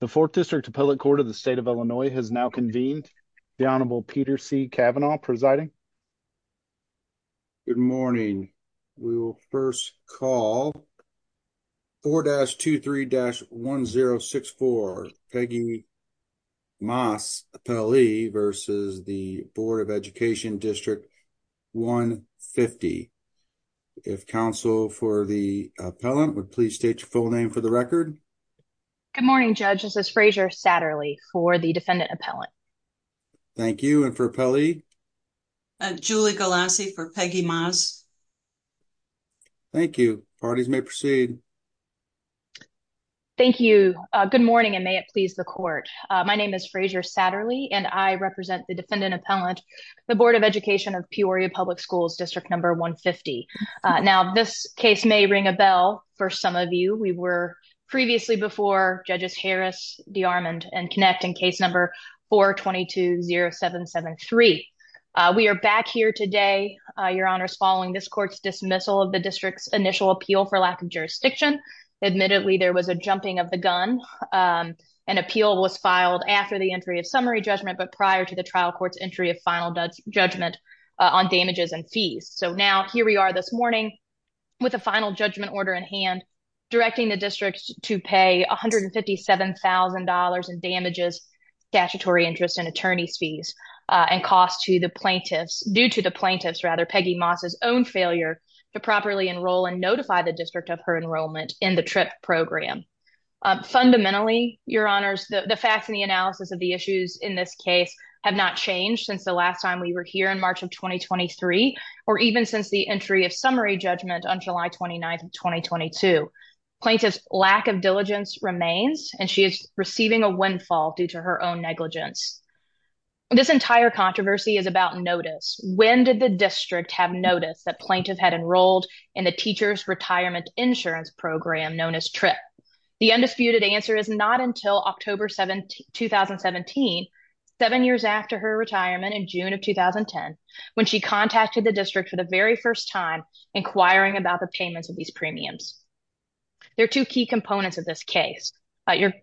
The 4th District Appellate Court of the State of Illinois has now convened. The Honorable Peter C. Kavanaugh presiding. Good morning, we will 1st call. 4-23-1064 Peggy Maas Appellee versus the Board of Education District 150. If counsel for the appellant would please state your full name for the record. Good morning, Judge. This is Frazier Satterly for the defendant appellant. Thank you. And for appellee? Julie Galassi for Peggy Maas. Thank you. Parties may proceed. Thank you. Good morning and may it please the court. My name is Frazier Satterly and I represent the defendant appellant, the Board of Education of Peoria Public Schools District 150. Now this case may ring a bell for some of you. We were previously before Judges Harris, DeArmond and Kinect in case number 4-22-0773. We are back here today, your honors, following this court's dismissal of the district's initial appeal for lack of jurisdiction. Admittedly, there was a jumping of the gun. An appeal was filed after the entry of summary judgment, but prior to the trial court's entry of final judgment on damages and fees. So now the final judgment order in hand, directing the district to pay $157,000 in damages, statutory interest and attorney's fees and cost to the plaintiffs due to the plaintiffs rather Peggy Maas's own failure to properly enroll and notify the district of her enrollment in the trip program. Fundamentally, your honors, the facts and the analysis of the issues in this case have not changed since the last time we were here in March of 2023 or even since the entry of summary judgment on July 29th of 2022. Plaintiff's lack of diligence remains and she is receiving a windfall due to her own negligence. This entire controversy is about notice. When did the district have noticed that plaintiff had enrolled in the teacher's retirement insurance program known as TRIP? The undisputed answer is not until October 2017, seven years after her retirement in June of 2010, when she contacted the district for the very first time inquiring about the payments of these premiums. There are two key components of this case.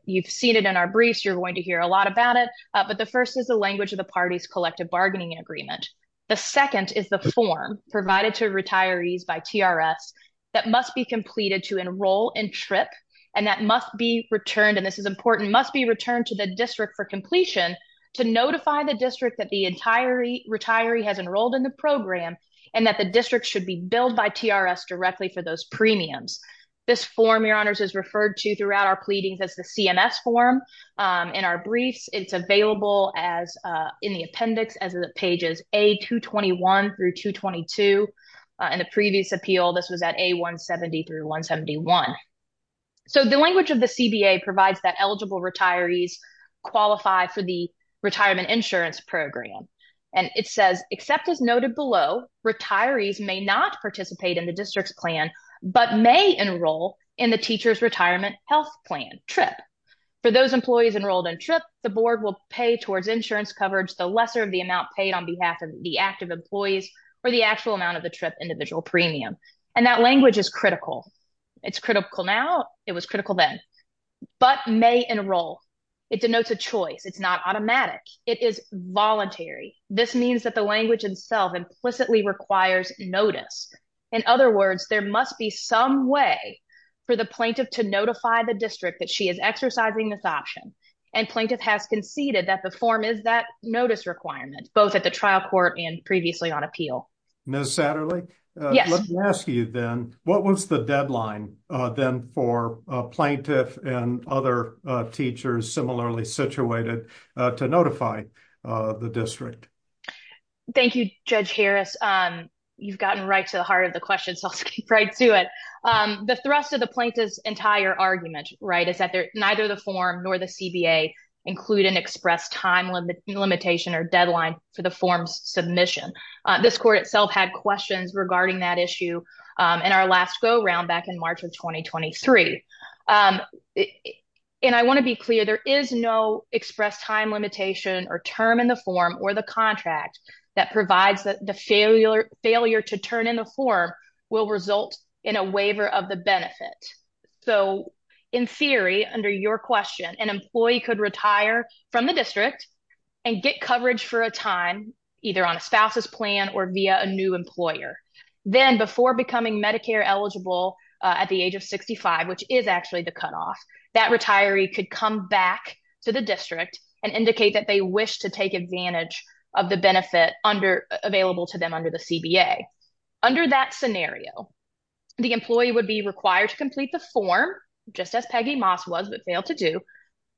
You've seen it in our briefs, you're going to hear a lot about it, but the first is the language of the party's collective bargaining agreement. The second is the form provided to retirees by TRS that must be completed to enroll in TRIP and that must be returned, and this is important, must be returned to the district for completion to notify the district that the entire retiree has enrolled in the program and that the district should be billed by TRS directly for those premiums. This form, your honors, is referred to throughout our pleadings as the CMS form. In our briefs, it's available in the appendix as pages A221 through 222. In the previous appeal, this was A170 through 171. So the language of the CBA provides that eligible retirees qualify for the retirement insurance program, and it says, except as noted below, retirees may not participate in the district's plan, but may enroll in the teacher's retirement health plan, TRIP. For those employees enrolled in TRIP, the board will pay towards insurance coverage the lesser of the amount paid on behalf of the active employees or the actual amount of the TRIP individual premium, and that language is critical. It's critical now. It was critical then, but may enroll. It denotes a choice. It's not automatic. It is voluntary. This means that the language itself implicitly requires notice. In other words, there must be some way for the plaintiff to notify the district that she is exercising this option, and plaintiff has conceded that the form is that notice requirement, both at the trial court and previously on appeal. Ms. Satterley, let me ask you then, what was the deadline then for a plaintiff and other teachers similarly situated to notify the district? Thank you, Judge Harris. You've gotten right to the heart of the question, so I'll skip right to it. The thrust of the plaintiff's entire argument is that neither the form nor the CBA include an express time limitation or deadline for the form's submission. This court itself had questions regarding that issue in our last go-round back in March of 2023, and I want to be clear. There is no express time limitation or term in the form or the contract that provides that the failure to turn in the form will result in a waiver of the benefit, so in theory, under your question, an employee could retire from the district and get coverage for a time, either on a spouse's plan or via a new employer. Then, before becoming Medicare eligible at the age of 65, which is actually the cutoff, that retiree could come back to the district and indicate that they wish to take advantage of the benefit available to them under the CBA. Under that scenario, the employee would be required to complete the form, just as Peggy Moss was but failed to do,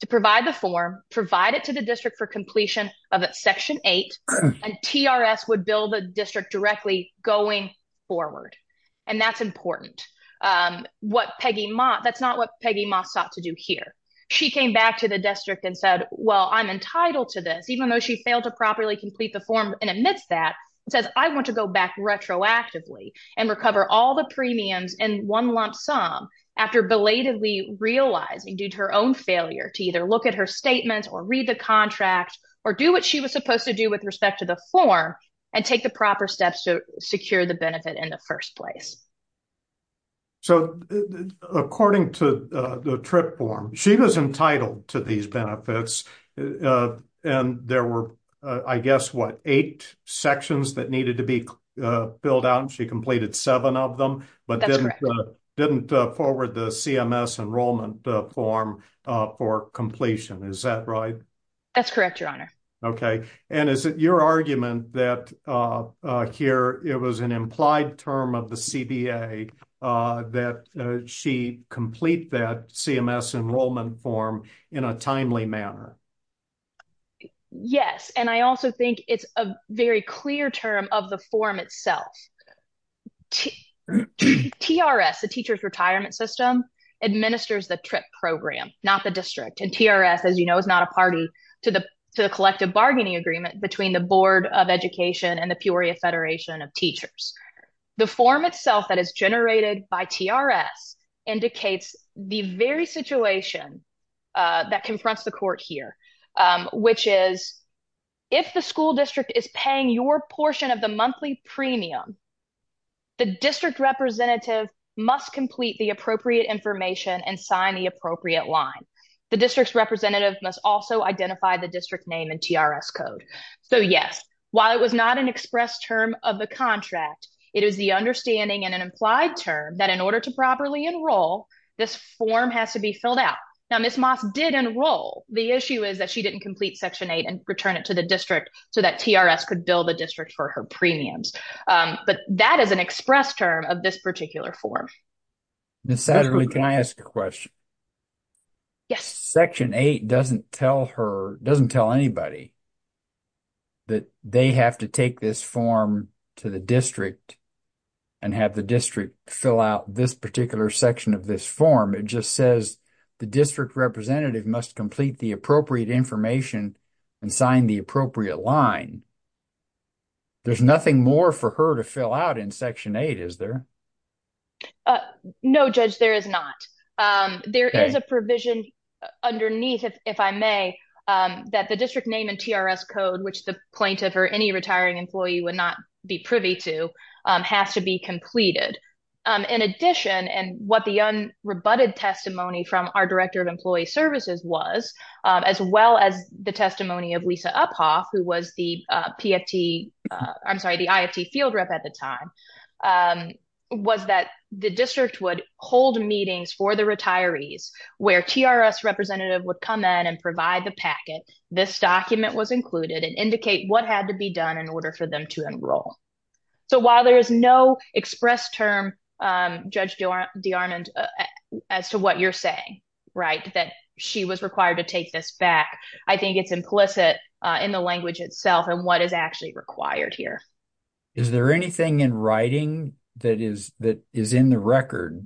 to provide the form, provide it to the district for completion of Section 8, and TRS would bill the district directly going forward, and that's important. That's not what Peggy Moss sought to do here. She came back to the district and said, well, I'm entitled to this, even though she failed to properly complete the form, and amidst that, says, I want to go back retroactively and recover all the premiums in one lump sum after belatedly realizing, due to her own failure, to either look at her statement or read the contract or do what she was supposed to do with respect to the form and take the proper steps to secure the benefit in the first place. So, according to the TRIP form, she was entitled to these benefits, and there were, I guess, what, eight sections that needed to be billed out, and she completed seven of them but didn't forward the CMS enrollment form for completion. Is that right? That's correct, Your Honor. Okay, and is it your argument that here it was an implied term of the CBA that she complete that CMS enrollment form in a timely manner? Yes, and I also think it's a very clear term of the form itself. TRS, the Teachers Retirement System, administers the TRIP program, not the district, and TRS, as you know, is not a party to the collective bargaining agreement between the Board of Education and the Peoria Federation of Teachers. The form itself that is generated by TRS indicates the very situation that confronts the court here, which is, if the school district is paying your portion of the monthly premium, the district representative must complete the appropriate information and sign the appropriate line. The district's representative must also identify the district name in TRS code. So, yes, while it was not an express term of the contract, it is the understanding in an implied term that in order to properly enroll, this form has to be filled out. Now, Ms. Moss did enroll. The issue is that she didn't complete Section 8 and return it to the district so that TRS could bill the district for her premiums, but that is an express term of this particular form. Ms. Satterley, can I ask a question? Yes. Section 8 doesn't tell her, doesn't tell anybody that they have to take this form to the district and have the district fill out this particular section of this form. It just says the district representative must complete the appropriate information and sign the appropriate line. There's nothing more for her to fill out in Section 8, is there? No, Judge, there is not. There is a provision underneath, if I may, that the district name TRS code, which the plaintiff or any retiring employee would not be privy to, has to be completed. In addition, and what the unrebutted testimony from our Director of Employee Services was, as well as the testimony of Lisa Uphoff, who was the PFT, I'm sorry, the IFT field rep at the time, was that the district would hold meetings for the retirees where TRS representative would come in and provide the packet, this document was included, and indicate what had to be done in order for them to enroll. So, while there is no express term, Judge DeArmond, as to what you're saying, right, that she was required to take this back, I think it's implicit in the language itself and what is actually required here. Is there anything in writing that is in the record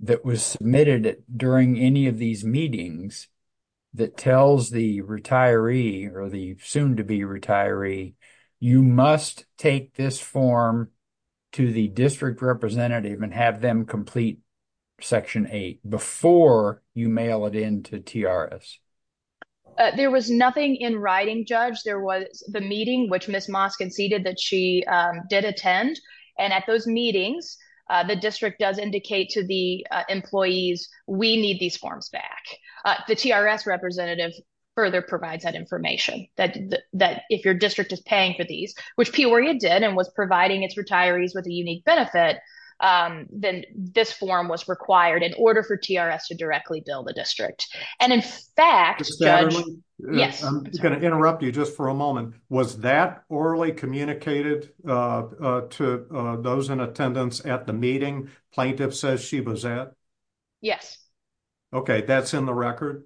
that was submitted during any of these meetings that tells the retiree or the soon-to-be retiree you must take this form to the district representative and have them complete Section 8 before you mail it in to TRS? There was nothing in writing, Judge. There was the meeting which Ms. Moss conceded that she did attend, and at those meetings, the district does indicate to the employees, we need these forms back. The TRS representative further provides that information, that if your district is paying for these, which Peoria did and was providing its retirees with a unique benefit, then this form was required in order for TRS to directly bill the district. And in fact, Judge, I'm going to interrupt you just for a moment. Was that orally communicated to those in attendance at the meeting plaintiff says she was at? Yes. Okay, that's in the record?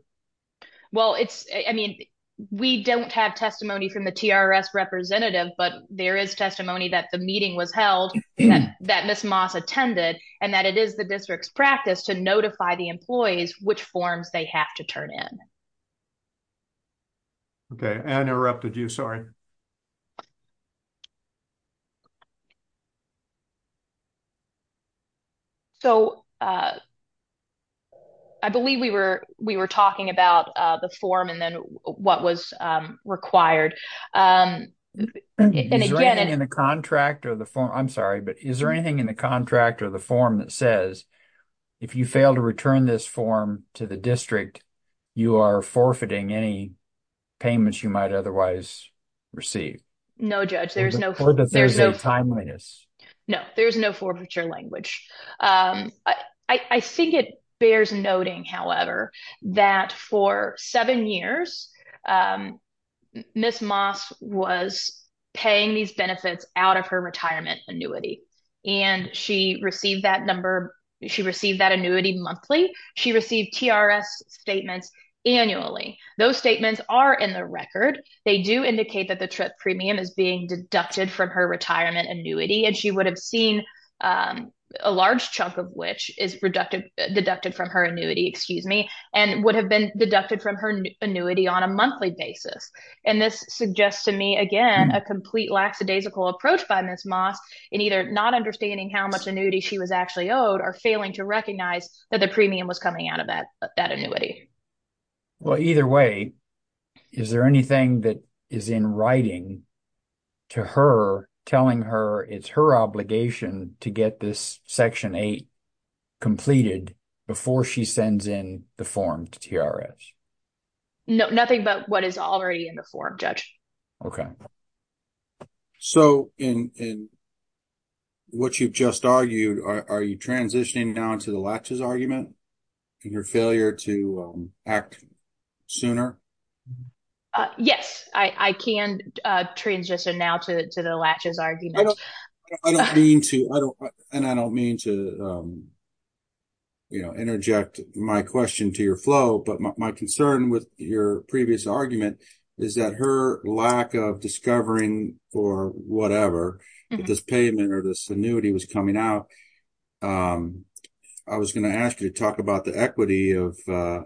Well, it's, I mean, we don't have testimony from the TRS representative, but there is testimony that the meeting was held, that Ms. Moss attended, and that it is the district's practice to notify the employees which forms they have to turn in. Okay, and I interrupted you, sorry. So, I believe we were talking about the form and then what was required. Is there anything in the contract or the form, I'm sorry, but is there anything in the contract or the form that says, if you fail to return this form to the district, you are forfeiting any payments you might otherwise receive? No, Judge, there's no. There's no timeliness. No, there's no forfeiture language. I think it bears noting, however, that for seven years, Ms. Moss was paying these benefits out of her retirement annuity, and she received that number, she received that annuity monthly. She received TRS statements annually. Those statements are in the record. They do indicate that the premium is being deducted from her retirement annuity, and she would have seen a large chunk of which is deducted from her annuity, excuse me, and would have been deducted from her annuity on a monthly basis, and this suggests to me, again, a complete lackadaisical approach by Ms. Moss in either not understanding how much annuity she was actually owed or failing to recognize that the premium was coming out of that annuity. Well, either way, is there anything that is in writing to her telling her it's her obligation to get this Section 8 completed before she sends in the form to TRS? No, nothing but what is already in the form, Judge. Okay. So, in what you've just argued, are you transitioning now into the latches argument and your failure to act sooner? Yes, I can transition now to the latches argument. I don't mean to interject my question to your flow, but my concern with your previous argument is that her lack of discovering for whatever, if this payment or this annuity was coming out, I was going to ask you to talk about the equity of the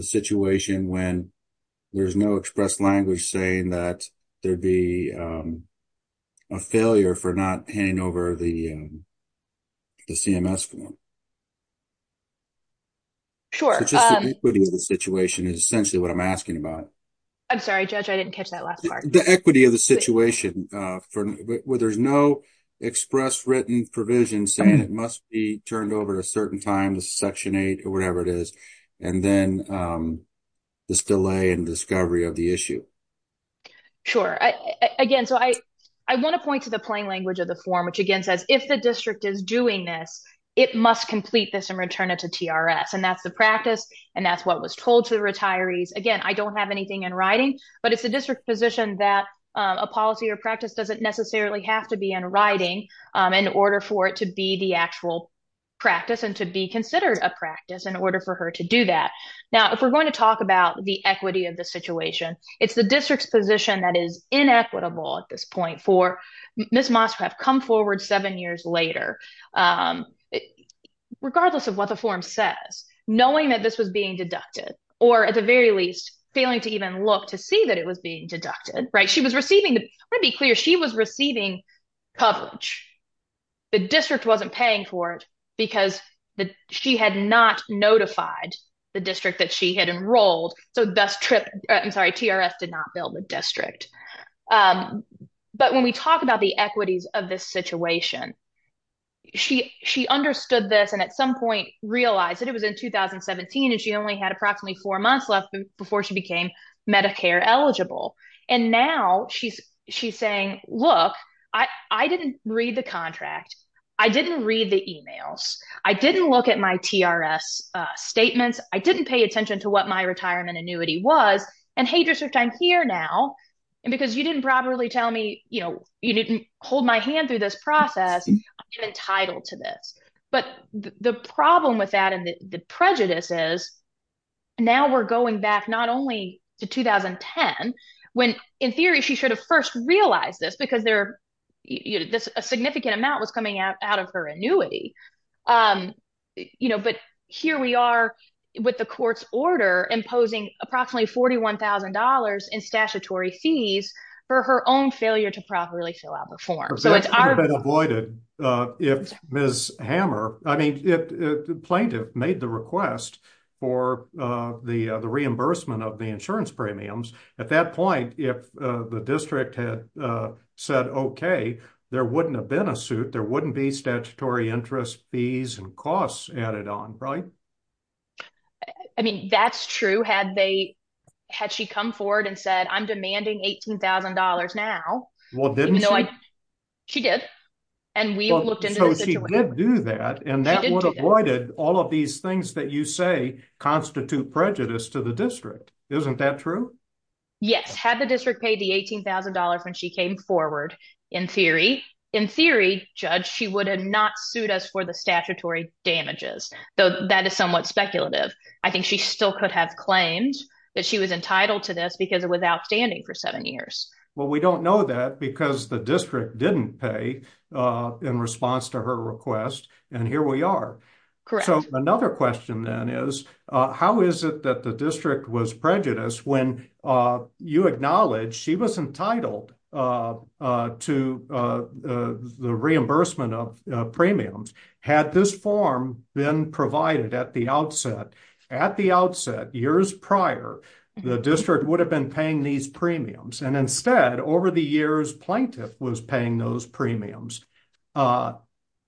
situation when there's no language saying that there'd be a failure for not handing over the CMS form. Sure. So, just the equity of the situation is essentially what I'm asking about. I'm sorry, Judge. I didn't catch that last part. The equity of the situation where there's no express written provision saying it must be turned over at a certain time to Section 8 or whatever it is, and then this delay in discovery of the issue. Sure. Again, so I want to point to the plain language of the form, which again says, if the district is doing this, it must complete this and return it to TRS. And that's the practice, and that's what was told to the retirees. Again, I don't have anything in writing, but it's the district position that a policy or practice doesn't necessarily have to be in writing in order for it to be the actual practice and to be considered a practice in order for her to do that. Now, if we're going to talk about the equity of the situation, it's the district's position that is inequitable at this point for Ms. Moss who have come forward seven years later, regardless of what the form says, knowing that this was being deducted, or at the very least, failing to even look to see that it was being deducted, right? She was receiving, I want to be clear, she was receiving coverage. The district wasn't paying for it because she had not notified the district that she had enrolled, so thus TRS did not bill the district. But when we talk about the equities of this situation, she understood this and at some point realized that it was in 2017 and she only had approximately four months left before she became Medicare eligible. And now she's saying, look, I didn't read the contract. I didn't read the emails. I didn't look at my TRS statements. I didn't pay attention to what my retirement annuity was. And hey, district, I'm here now. And because you didn't properly tell me, you didn't hold my hand through this process, I'm entitled to this. But the problem with that and the prejudice is now we're going back not only to 2010, when in theory she should have first realized this because a significant amount was coming out of her annuity. But here we are with the court's order imposing approximately $41,000 in statutory fees for her own failure to properly fill out the form. But that's been avoided. If Ms. Hammer, the plaintiff made the request for the reimbursement of the insurance premiums at that point, if the district had said, OK, there wouldn't have been a suit, there wouldn't be statutory interest fees and costs added on, right? I mean, that's true. Had she come forward and said, I'm demanding $18,000 now. Well, didn't she? She did. And we looked into the situation. So she did do that and that would have avoided all of these things that you say constitute prejudice to the district. Isn't that true? Yes. Had the district paid the $18,000 when she came forward in theory, in theory, Judge, she would have not sued us for the statutory damages, though that is somewhat speculative. I think she still could have claimed that she was entitled to this because it was outstanding for seven years. Well, we don't know that because the district didn't pay in response to her request. And here we are. So another question then is how is it that the district was prejudiced when you acknowledge she was entitled to the reimbursement of premiums? Had this form been provided at the outset, at the outset, years prior, the district would have been paying these premiums. And instead, over the years, plaintiff was paying those premiums. Uh,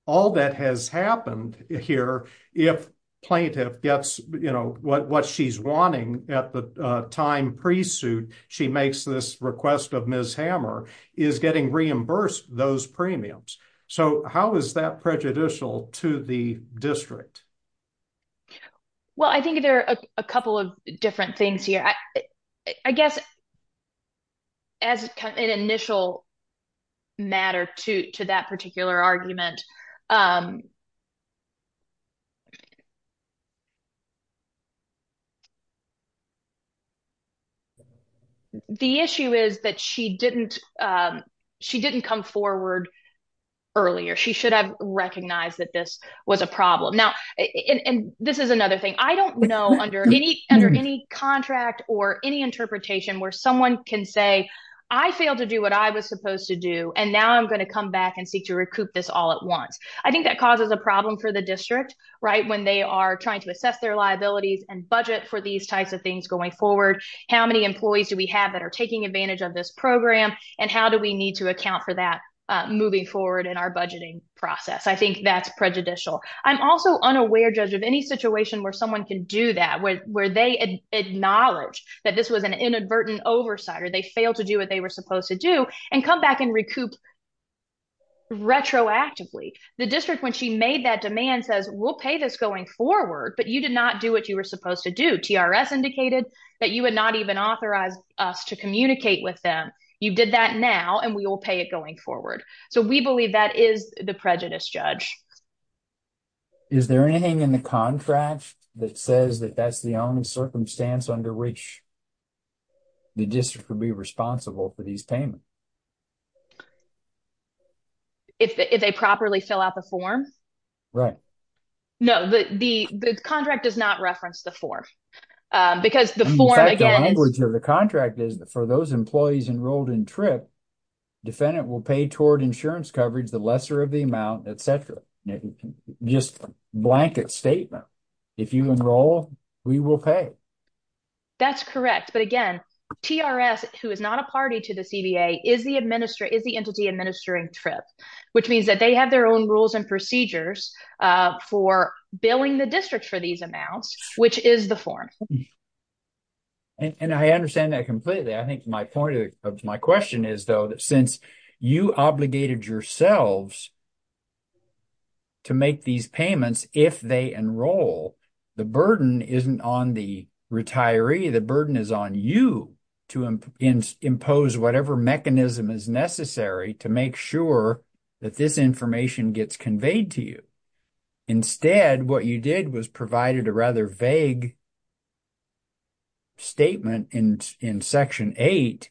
all that has happened here, if plaintiff gets, you know, what she's wanting at the time pre-suit, she makes this request of Ms. Hammer, is getting reimbursed those premiums. So how is that prejudicial to the district? Well, I think there are a couple of different things here. I guess as an initial matter to that particular argument, the issue is that she didn't come forward earlier. She should have recognized that this was a problem. Now, and this is another thing I don't know under any, under any contract or any interpretation where someone can say, I failed to do what I was supposed to do. And now I'm going to come back and seek to recoup this all at once. I think that causes a problem for the district, right? When they are trying to assess their liabilities and budget for these types of things going forward. How many employees do we have that are taking advantage of this program and how do we need to account for that moving forward in our budgeting process? I think that's prejudicial. I'm also unaware, Judge, of any situation where someone can do that, where they acknowledge that this was an inadvertent oversight or they failed to do what they were supposed to do and come back and recoup retroactively. The district, when she made that demand, says, we'll pay this going forward, but you did not do what you were supposed to do. TRS indicated that you would not even authorize us to communicate with them. You did that now and we will pay it going forward. So we believe that is the prejudice, Judge. Is there anything in the contract that says that that's the only circumstance under which the district will be responsible for these payments? If they properly fill out the form? Right. No, the contract does not reference the form. Because the form, again, is... Defendant will pay toward insurance coverage, the lesser of the amount, etc. Just blanket statement. If you enroll, we will pay. That's correct. But again, TRS, who is not a party to the CBA, is the entity administering TRIP, which means that they have their own rules and procedures for billing the district for these amounts, which is the form. And I understand that completely. I think my point of my question is, though, that since you obligated yourselves to make these payments if they enroll, the burden isn't on the retiree. The burden is on you to impose whatever mechanism is necessary to make sure that this information gets conveyed to you. Instead, what you did was provided a rather vague statement in Section 8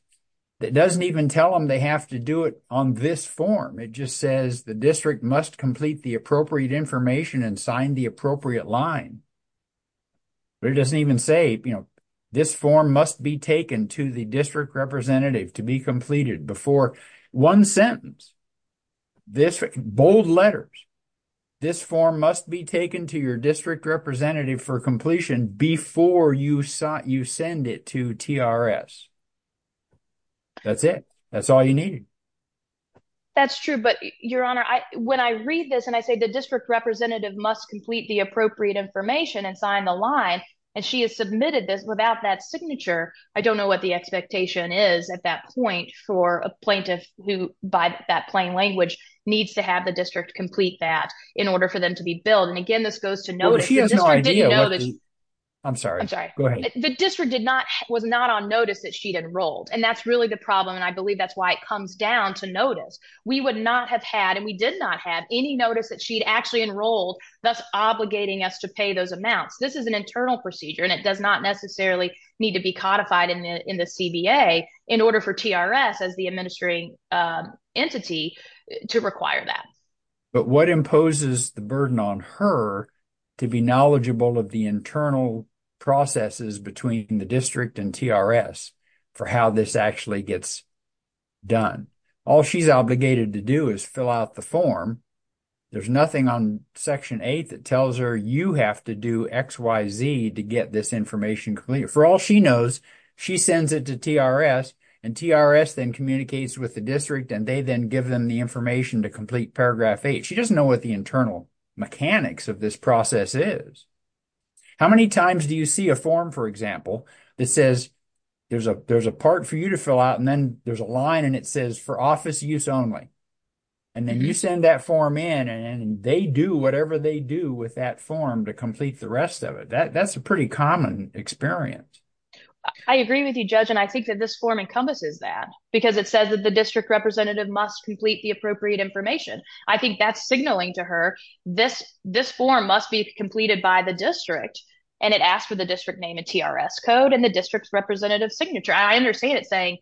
that doesn't even tell them they have to do it on this form. It just says the district must complete the appropriate information and sign the appropriate line. But it doesn't even say, you know, this form must be taken to the district representative to be completed before one sentence. Bold letters. This form must be taken to your district representative for completion before you send it to TRS. That's it. That's all you need. That's true. But, Your Honor, when I read this and I say the district representative must complete the appropriate information and sign the line, and she has submitted this without that signature, I don't know what the expectation is at that point for a plaintiff who, by that plain language, needs to have the district complete that in order for them to be billed. And, again, this goes to notice. I'm sorry. I'm sorry. Go ahead. The district was not on notice that she'd enrolled. And that's really the problem. And I believe that's why it comes down to notice. We would not have had and we did not have any notice that she'd actually enrolled, thus obligating us to pay those amounts. This is an internal procedure and it does not necessarily need to be codified in the CBA in order for TRS as the administering entity to require that. But what imposes the burden on her to be knowledgeable of the internal processes between the district and TRS for how this actually gets done? All she's obligated to do is fill out the form. There's nothing on Section 8 that tells her you have to do X, Y, Z to get this information for all she knows. She sends it to TRS and TRS then communicates with the district and they then give them the information to complete Paragraph 8. She doesn't know what the internal mechanics of this process is. How many times do you see a form, for example, that says there's a there's a part for you to fill out and then there's a line and it says for office use only and then you send that form in and they do whatever they do with that form to complete the rest of it. That's a pretty common experience. I agree with you, Judge, and I think that this form encompasses that because it says that the district representative must complete the appropriate information. I think that's signaling to her this form must be completed by the district and it asks for the district name and TRS code and the district's representative signature. I understand it saying,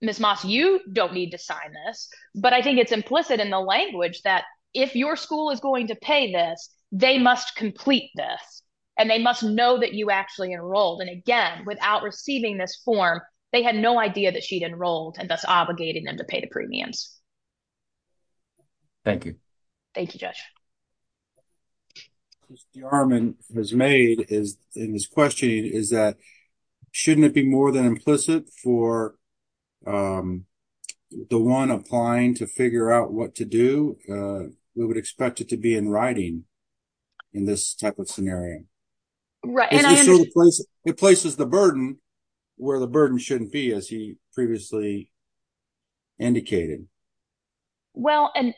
Ms. Moss, you don't need to sign this, but I think it's implicit in the language that if your school is going to pay this, they must complete this and they must know that you actually enrolled. Again, without receiving this form, they had no idea that she'd enrolled and thus obligated them to pay the premiums. Thank you. Thank you, Judge. What Mr. Harman has made in his questioning is that shouldn't it be more than implicit for the one applying to figure out what to do? We would expect it to be in writing in this type of scenario. It places the burden where the burden shouldn't be as he previously indicated. Well, and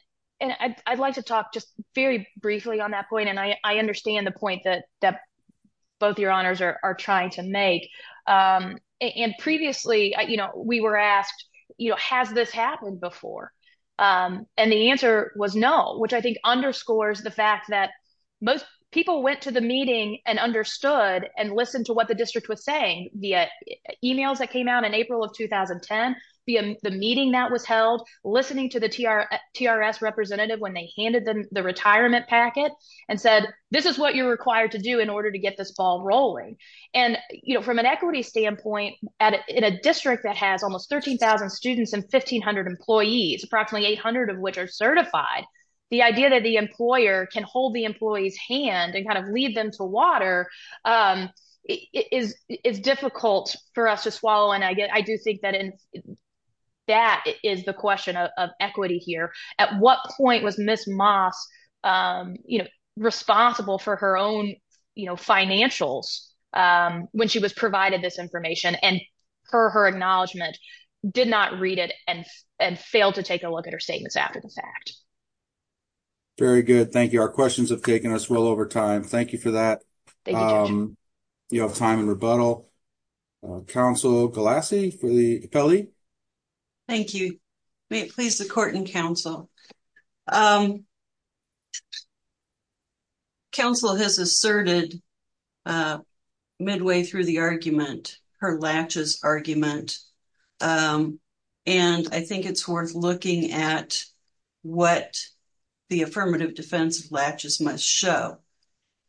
I'd like to talk just very briefly on that point and I understand the point that both your honors are trying to make. And previously, we were asked, has this happened before? And the answer was no, which I think underscores the fact that most people went to the meeting and understood and listened to what the district was saying via emails that came out in April of 2010, via the meeting that was held, listening to the TRS representative when they the retirement packet and said, this is what you're required to do in order to get this ball rolling. And from an equity standpoint, in a district that has almost 13,000 students and 1500 employees, approximately 800 of which are certified, the idea that the employer can hold the employee's hand and kind of lead them to water is difficult for us to swallow. And I do think that that is the question of equity here. At what point was Ms. Moss responsible for her own financials when she was provided this information and her acknowledgement did not read it and failed to take a look at her statements after the fact. Very good. Thank you. Our questions have taken us well over time. Thank you for that. You have time and rebuttal. Councilor Galassi for the appellee. Thank you. May it please the court and council. Council has asserted midway through the argument, her latches argument. And I think it's worth looking at what the affirmative defense of latches must show.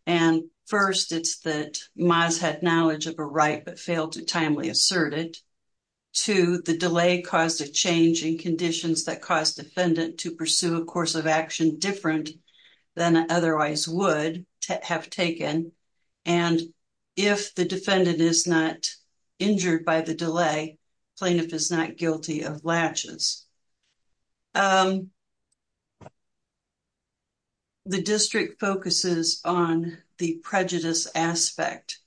And first, it's that Moss had knowledge of a right but failed to timely assert it. Two, the delay caused a change in conditions that caused defendant to pursue a course of action different than otherwise would have taken. And if the defendant is not injured by the delay, plaintiff is not guilty of latches. The district focuses on the prejudice aspect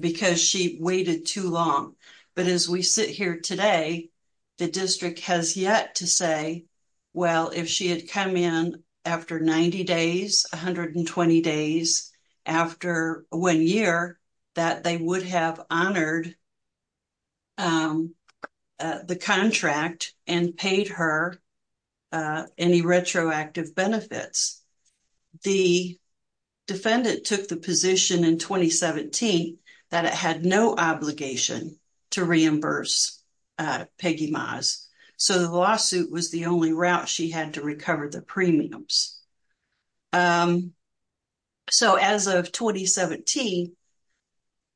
because she waited too long. But as we sit here today, the district has yet to say, well, if she had come in after 90 days, 120 days, after one year, that they would have honored the contract and paid her any retroactive benefits. The defendant took the position in 2017 that it had no obligation to reimburse Peggy Moss. So the lawsuit was the only route she had to recover the premiums. So as of 2017,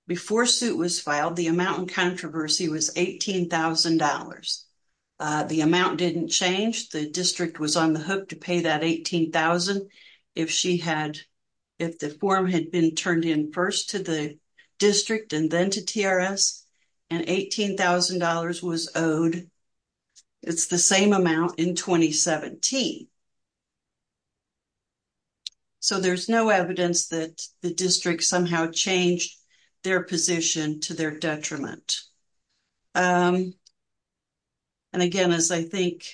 before suit was filed, the amount in controversy was $18,000. The amount didn't change. The district was on the hook to pay that $18,000. If the form had been turned in first to the district and then to TRS, and $18,000 was owed, it's the same amount in 2017. So there's no evidence that the district somehow changed their position to their detriment. And again, as I think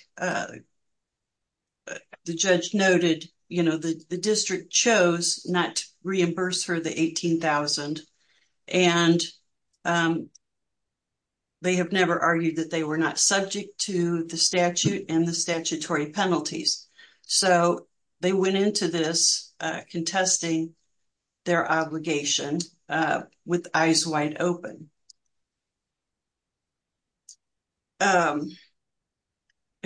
the judge noted, the district chose not to reimburse her the $18,000. And they have never argued that they were not subject to the statute and the statutory penalties. So they went into this contesting their obligation with eyes wide open. A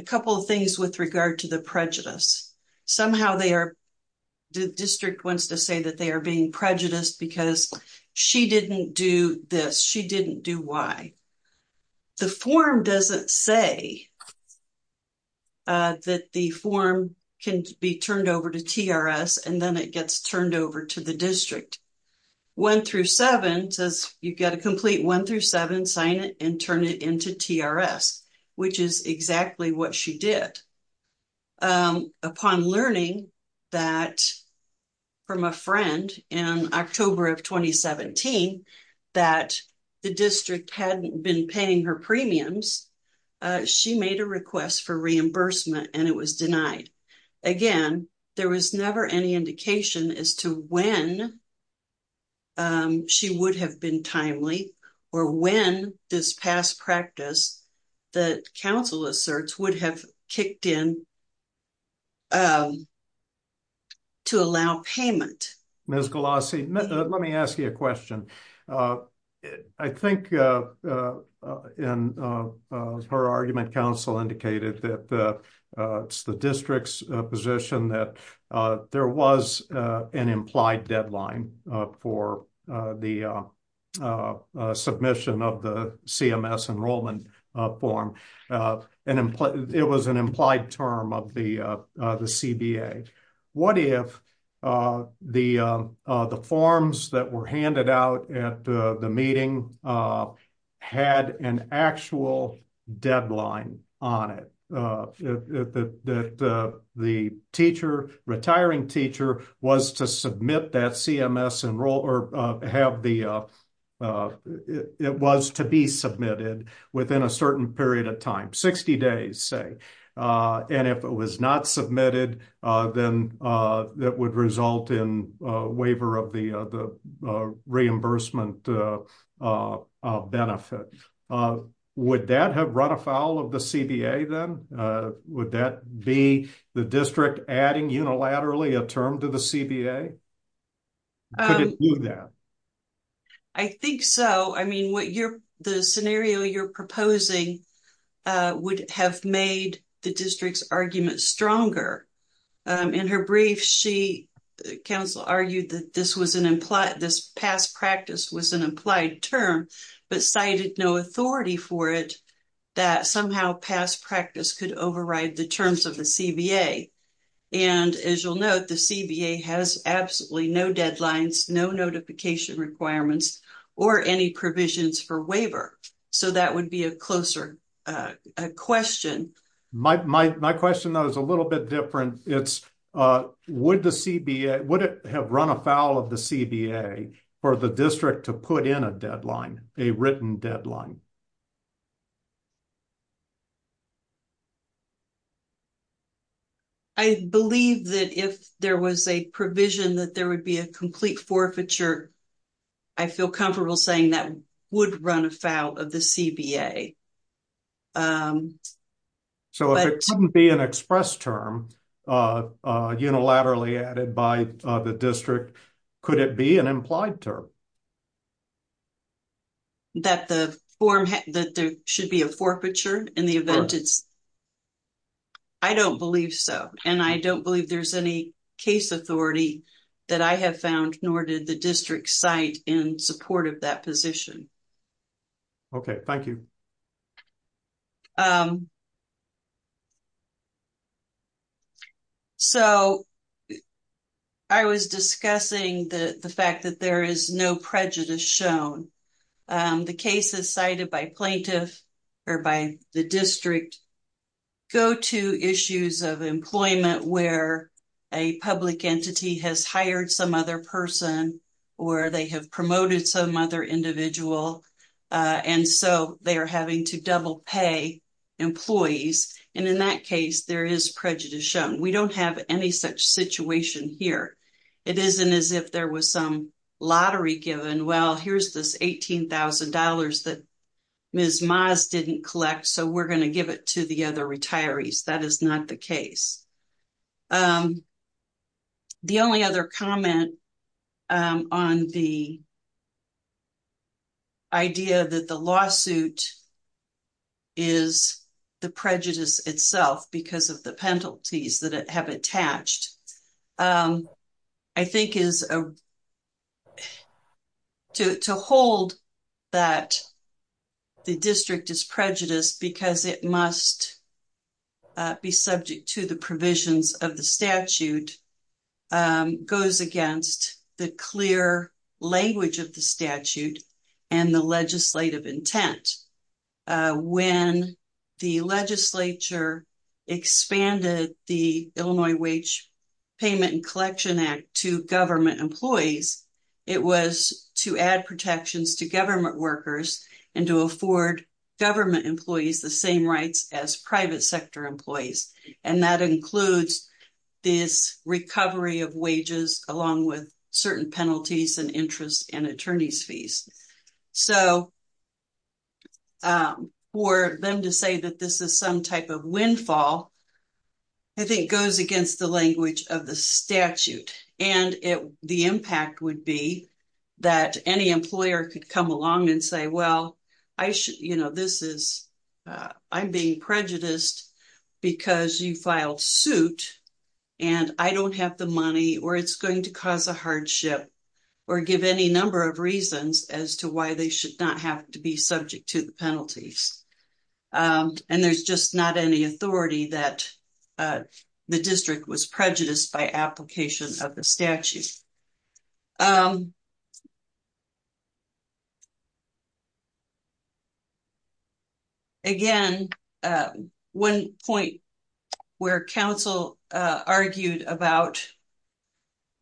couple of things with regard to the prejudice. Somehow the district wants to say that they are being prejudiced because she didn't do this, she didn't do Y. The form doesn't say that the form can be turned over to TRS and then it gets turned over to the district. 1-7 says you've got to complete 1-7, sign it, and turn it into TRS, which is exactly what she did. Upon learning that from a friend in October of 2017 that the district hadn't been paying her premiums, she made a request for reimbursement and it was denied. Again, there was never any indication as to when she would have been timely or when this past practice that counsel asserts would have kicked in to allow payment. Mr. Galassi, let me ask you a question. I think her argument counsel indicated that it's the district's position that there was an implied deadline for the submission of the CMS enrollment form. It was an implied term of the CBA. What if the forms that were handed out at the meeting had an actual deadline on it? If the retiring teacher was to be submitted within a certain period of time, 60 days, say, and if it was not submitted, then that would result in a waiver of the reimbursement of benefit. Would that have run afoul of the CBA then? Would that be the district adding unilaterally a term to the CBA? Could it do that? I think so. I mean, the scenario you're proposing would have made the district's argument stronger. In her brief, counsel argued that this past practice was an implied term, but cited no authority for it that somehow past practice could override the terms of the CBA. As you'll note, the CBA has absolutely no deadlines, no notification requirements, or any provisions for waiver. That would be a closer question. My question is a little bit different. Would it have run afoul of the CBA for the district to put in a deadline, a written deadline? I believe that if there was a provision that there would be a complete forfeiture, I feel comfortable saying that would run afoul of the CBA. So if it couldn't be an express term unilaterally added by the district, could it be an implied term? That there should be a forfeiture in the event it's... I don't believe so, and I don't believe there's any case authority that I have found, nor did the district cite in support of that position. Okay, thank you. So I was discussing the fact that there is no prejudice shown. The cases cited by plaintiff or by the district go to issues of employment where a public entity has hired some other person or they have promoted some other individual, and so they are having to double pay employees. And in that case, there is prejudice shown. We don't have any such situation here. It isn't as if there was some lottery given, well, here's this $18,000 that Ms. Maas didn't collect, so we're going to give it to the other retirees. That is not the case. The only other comment on the idea that the lawsuit is the prejudice itself because of the penalties that it have attached, I think is to hold that the district is prejudiced because it must be subject to the provisions of the statute goes against the clear language of the statute and the legislative intent. When the legislature expanded the Illinois Wage Payment and Collection Act to government employees, it was to add protections to government workers and to afford government employees the same rights as private sector employees, and that includes this recovery of wages along with certain penalties and interest and attorney's fees. So, for them to say that this is some type of windfall, I think goes against the language of the statute, and the impact would be that any employer could come along and say, well, I'm being prejudiced because you filed suit, and I don't have the money, or it's going to cause a hardship, or give any number of reasons as to why they should not have to be subject to the penalties. And there's just not any authority that the district was prejudiced by application of the statute. Again, one point where counsel argued about,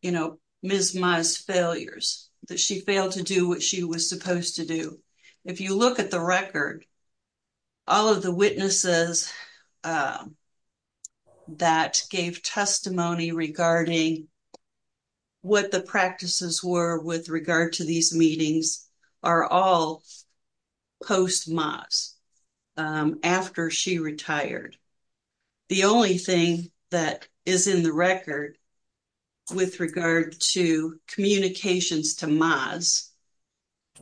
you know, Ms. Ma's failures, that she failed to do what she was supposed to do. If you look at the record, all of the witnesses that gave testimony regarding what the practices were with regard to these meetings are all post-Ma's, after she retired. The only thing that is in the record with regard to communications to Ms. Ma's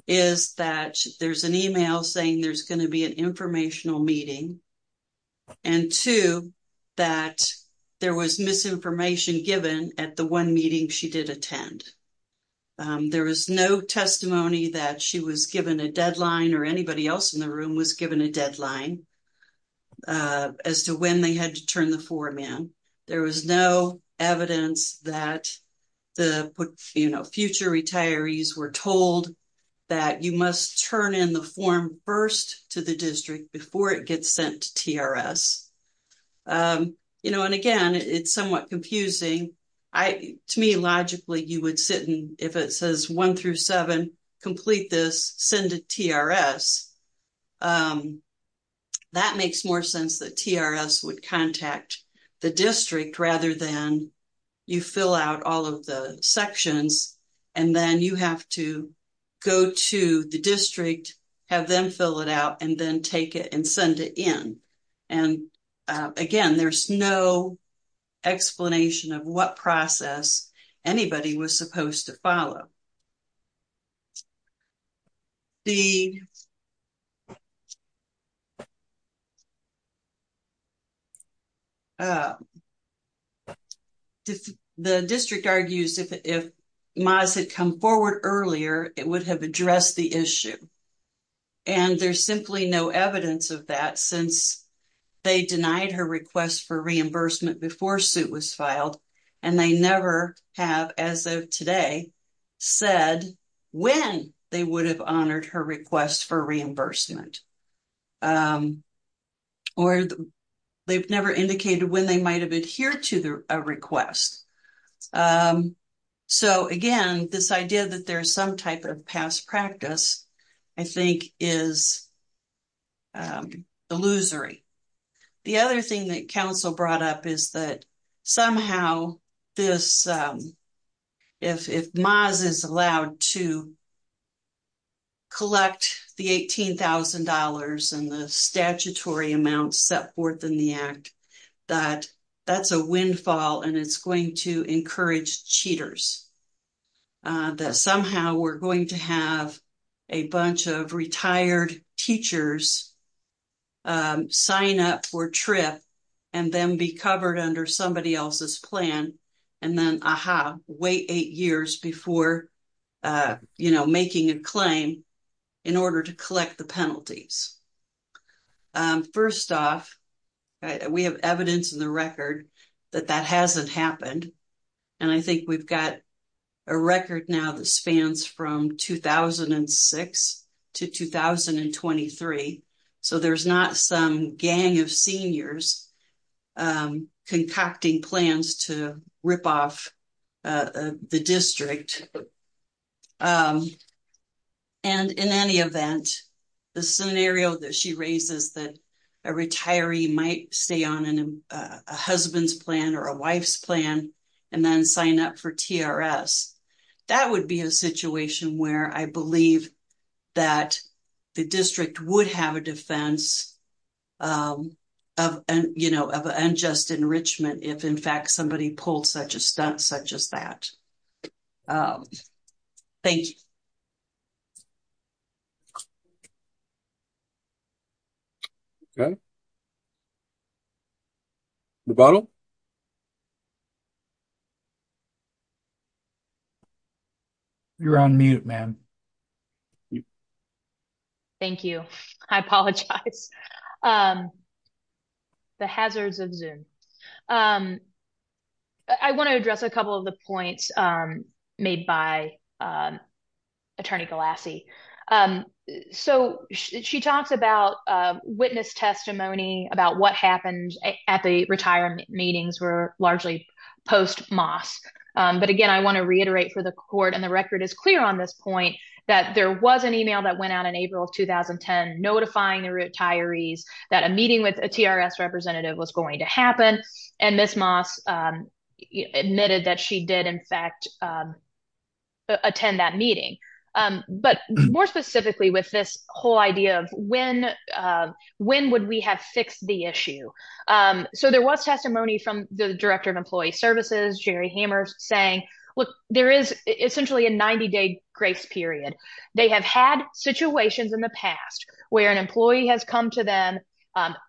is that there's an email saying there's going to be an informational meeting, and two, that there was misinformation given at the one meeting she did attend. There was no testimony that she was given a deadline, or anybody else in the room was given a deadline, as to when they had to turn the forum in. There was no evidence that the, you know, future retirees were told that you must turn in the form first to the district before it gets sent to TRS. You know, and again, it's somewhat confusing. To me, logically, you would sit and, if it says one through seven, complete this, send to TRS, that makes more sense that TRS would contact the district rather than you fill out all of the sections, and then you have to go to the district, have them fill it out, and then take it and send it in. And again, there's no explanation of what process anybody was supposed to follow. The district argues, if Ma's had come forward earlier, it would have addressed the issue, and there's simply no evidence of that, since they denied her request for reimbursement before her suit was filed, and they never have, as of today, said when they would have honored her request for reimbursement. Or they've never indicated when they might have adhered to a request. So again, this idea that there's some type of past practice, I think, is illusory. The other thing that council brought up is that somehow this, if Ma's is allowed to collect the $18,000 and the statutory amounts set forth in the act, that that's a windfall, and it's going to encourage cheaters, that somehow we're going to have a bunch of retired teachers sign up for TRIP and then be covered under somebody else's plan, and then, ah-ha, wait eight years before, you know, making a claim in order to collect the penalties. First off, we have evidence in the record that that hasn't happened, and I think we've got a record now that spans from 2006 to 2023, so there's not some gang of seniors concocting plans to rip off the district. And in any event, the scenario that she raises that a retiree might stay on a husband's plan or a wife's plan and then sign up for TRS, that would be a situation where I believe that the district would have a defense of, you know, of unjust enrichment if, in fact, somebody pulled such a stunt such as that. Thank you. Okay, the bottle. You're on mute, ma'am. Thank you. I apologize. The hazards of Zoom. I want to address a couple of the points made by Attorney Galassi. So she talks about witness testimony, about what happened at the retirement meetings were largely post-Moss. But again, I want to reiterate for the court, and the record is clear on this point, that there was an email that went out in April of 2010 notifying the retirees that a meeting with a TRS representative was going to happen, and Ms. Moss admitted that she did, in fact, attend that meeting. But more specifically with this whole idea of when would we have fixed the issue. So there was testimony from the Director of Employee Services, Jerry Hammer, saying, look, there is essentially a 90-day grace period. They have had situations in the past where an employee has come to them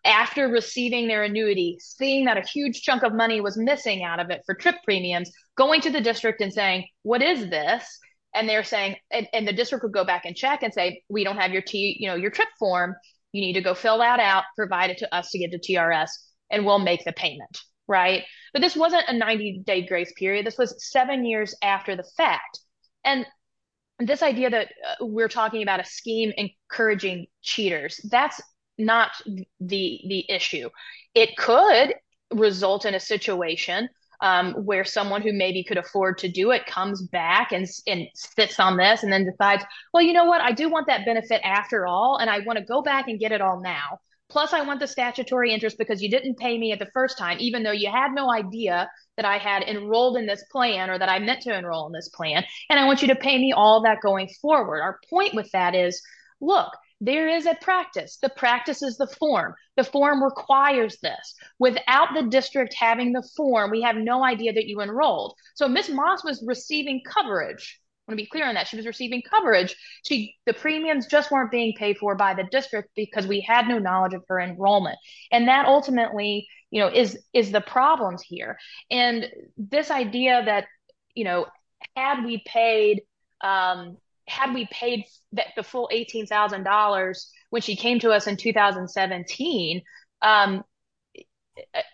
after receiving their annuity, seeing that a huge chunk of money was missing out of it for trip premiums, going to the district and saying, what is this? And they're saying, and the district would go back and check and say, we don't have your trip form. You need to go fill that out, provide it to us to get the TRS, and we'll make the payment. Right? But this wasn't a 90-day grace period. This was seven years after the fact. And this idea that we're talking about a scheme encouraging cheaters, that's not the issue. It could result in a situation where someone who maybe could afford to do it comes back and sits on this and then decides, well, you know what, I do want that benefit after all, and I want to go back and get it all now. Plus, I want the statutory interest because you didn't pay me at the first time, even though you had no idea that I had enrolled in this plan or that I meant to enroll in this plan, and I want you to pay me all that going forward. Our point with that is, look, there is a practice. The practice is the form. The form requires this. Without the district having the form, we have no idea that you enrolled. So Ms. Moss was receiving coverage. I want to be clear on that. She was receiving coverage. The premiums just weren't being paid for by the district because we had no knowledge of her enrollment. And that ultimately is the problem here. This idea that had we paid the full $18,000 when she came to us in 2017,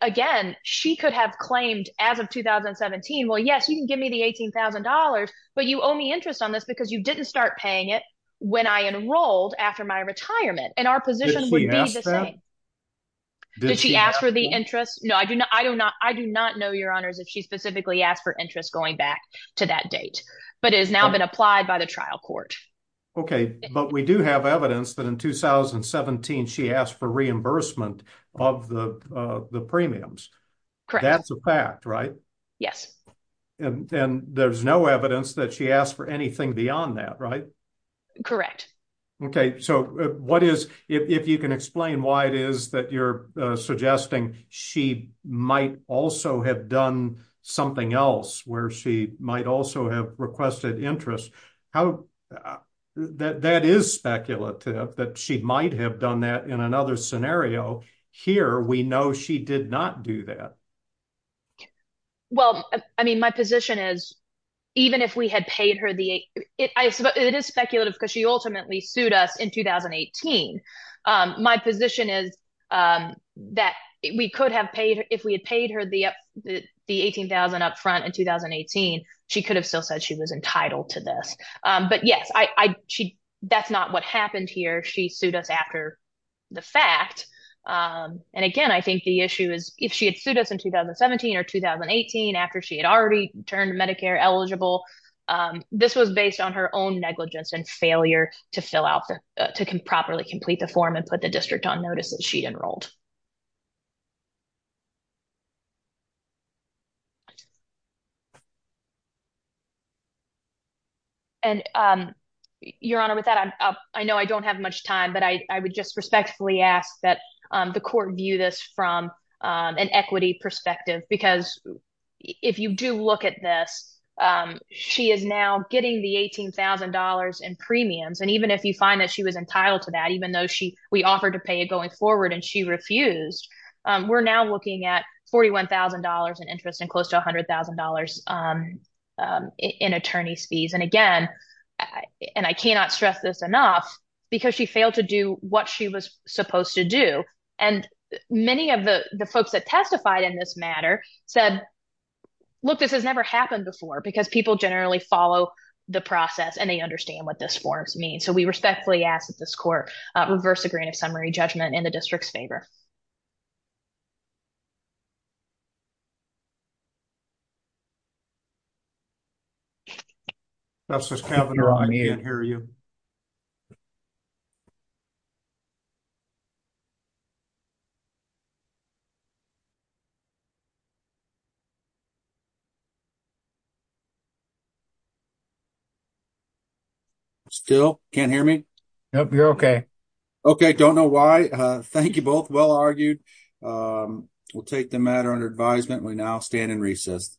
again, she could have claimed as of 2017, well, yes, you can give me the $18,000, but you owe me interest on this because you didn't start paying it when I enrolled after my retirement. And our position would be the same. Did she ask for the interest? No, I do not. I do not know, your honors, if she specifically asked for interest going back to that date, but it has now been applied by the trial court. Okay. But we do have evidence that in 2017, she asked for reimbursement of the premiums. That's a fact, right? Yes. And there's no evidence that she asked for anything beyond that, right? Correct. Okay. So what is, if you can explain why it is that you're suggesting she might also have done something else where she might also have requested interest, how, that is speculative that she might have done that in another scenario. Here, we know she did not do that. Well, I mean, my position is even if we had paid her the, it is speculative because she ultimately sued us in 2018. My position is that we could have paid, if we had paid her the $18,000 upfront in 2018, she could have still said she was entitled to this. But yes, that's not what happened here. She sued us after the fact. And again, I think the issue is if she had sued us in 2017 or 2018, after she had already turned Medicare eligible, this was based on her own negligence and failure to fill out, to properly complete the form and put the Your Honor, with that, I know I don't have much time, but I would just respectfully ask that the court view this from an equity perspective, because if you do look at this, she is now getting the $18,000 in premiums. And even if you find that she was entitled to that, even though we offered to pay it going forward and she refused, we're now looking at $41,000 in interest and close to $100,000 in attorney's fees. And again, and I cannot stress this enough, because she failed to do what she was supposed to do. And many of the folks that testified in this matter said, look, this has never happened before because people generally follow the process and they understand what this forms mean. So we respectfully ask that this court reverse the process. I can't hear you. Still can't hear me? You're okay. Okay, don't know why. Thank you both. Well argued. We'll take the matter under advisement. We now stand in recess.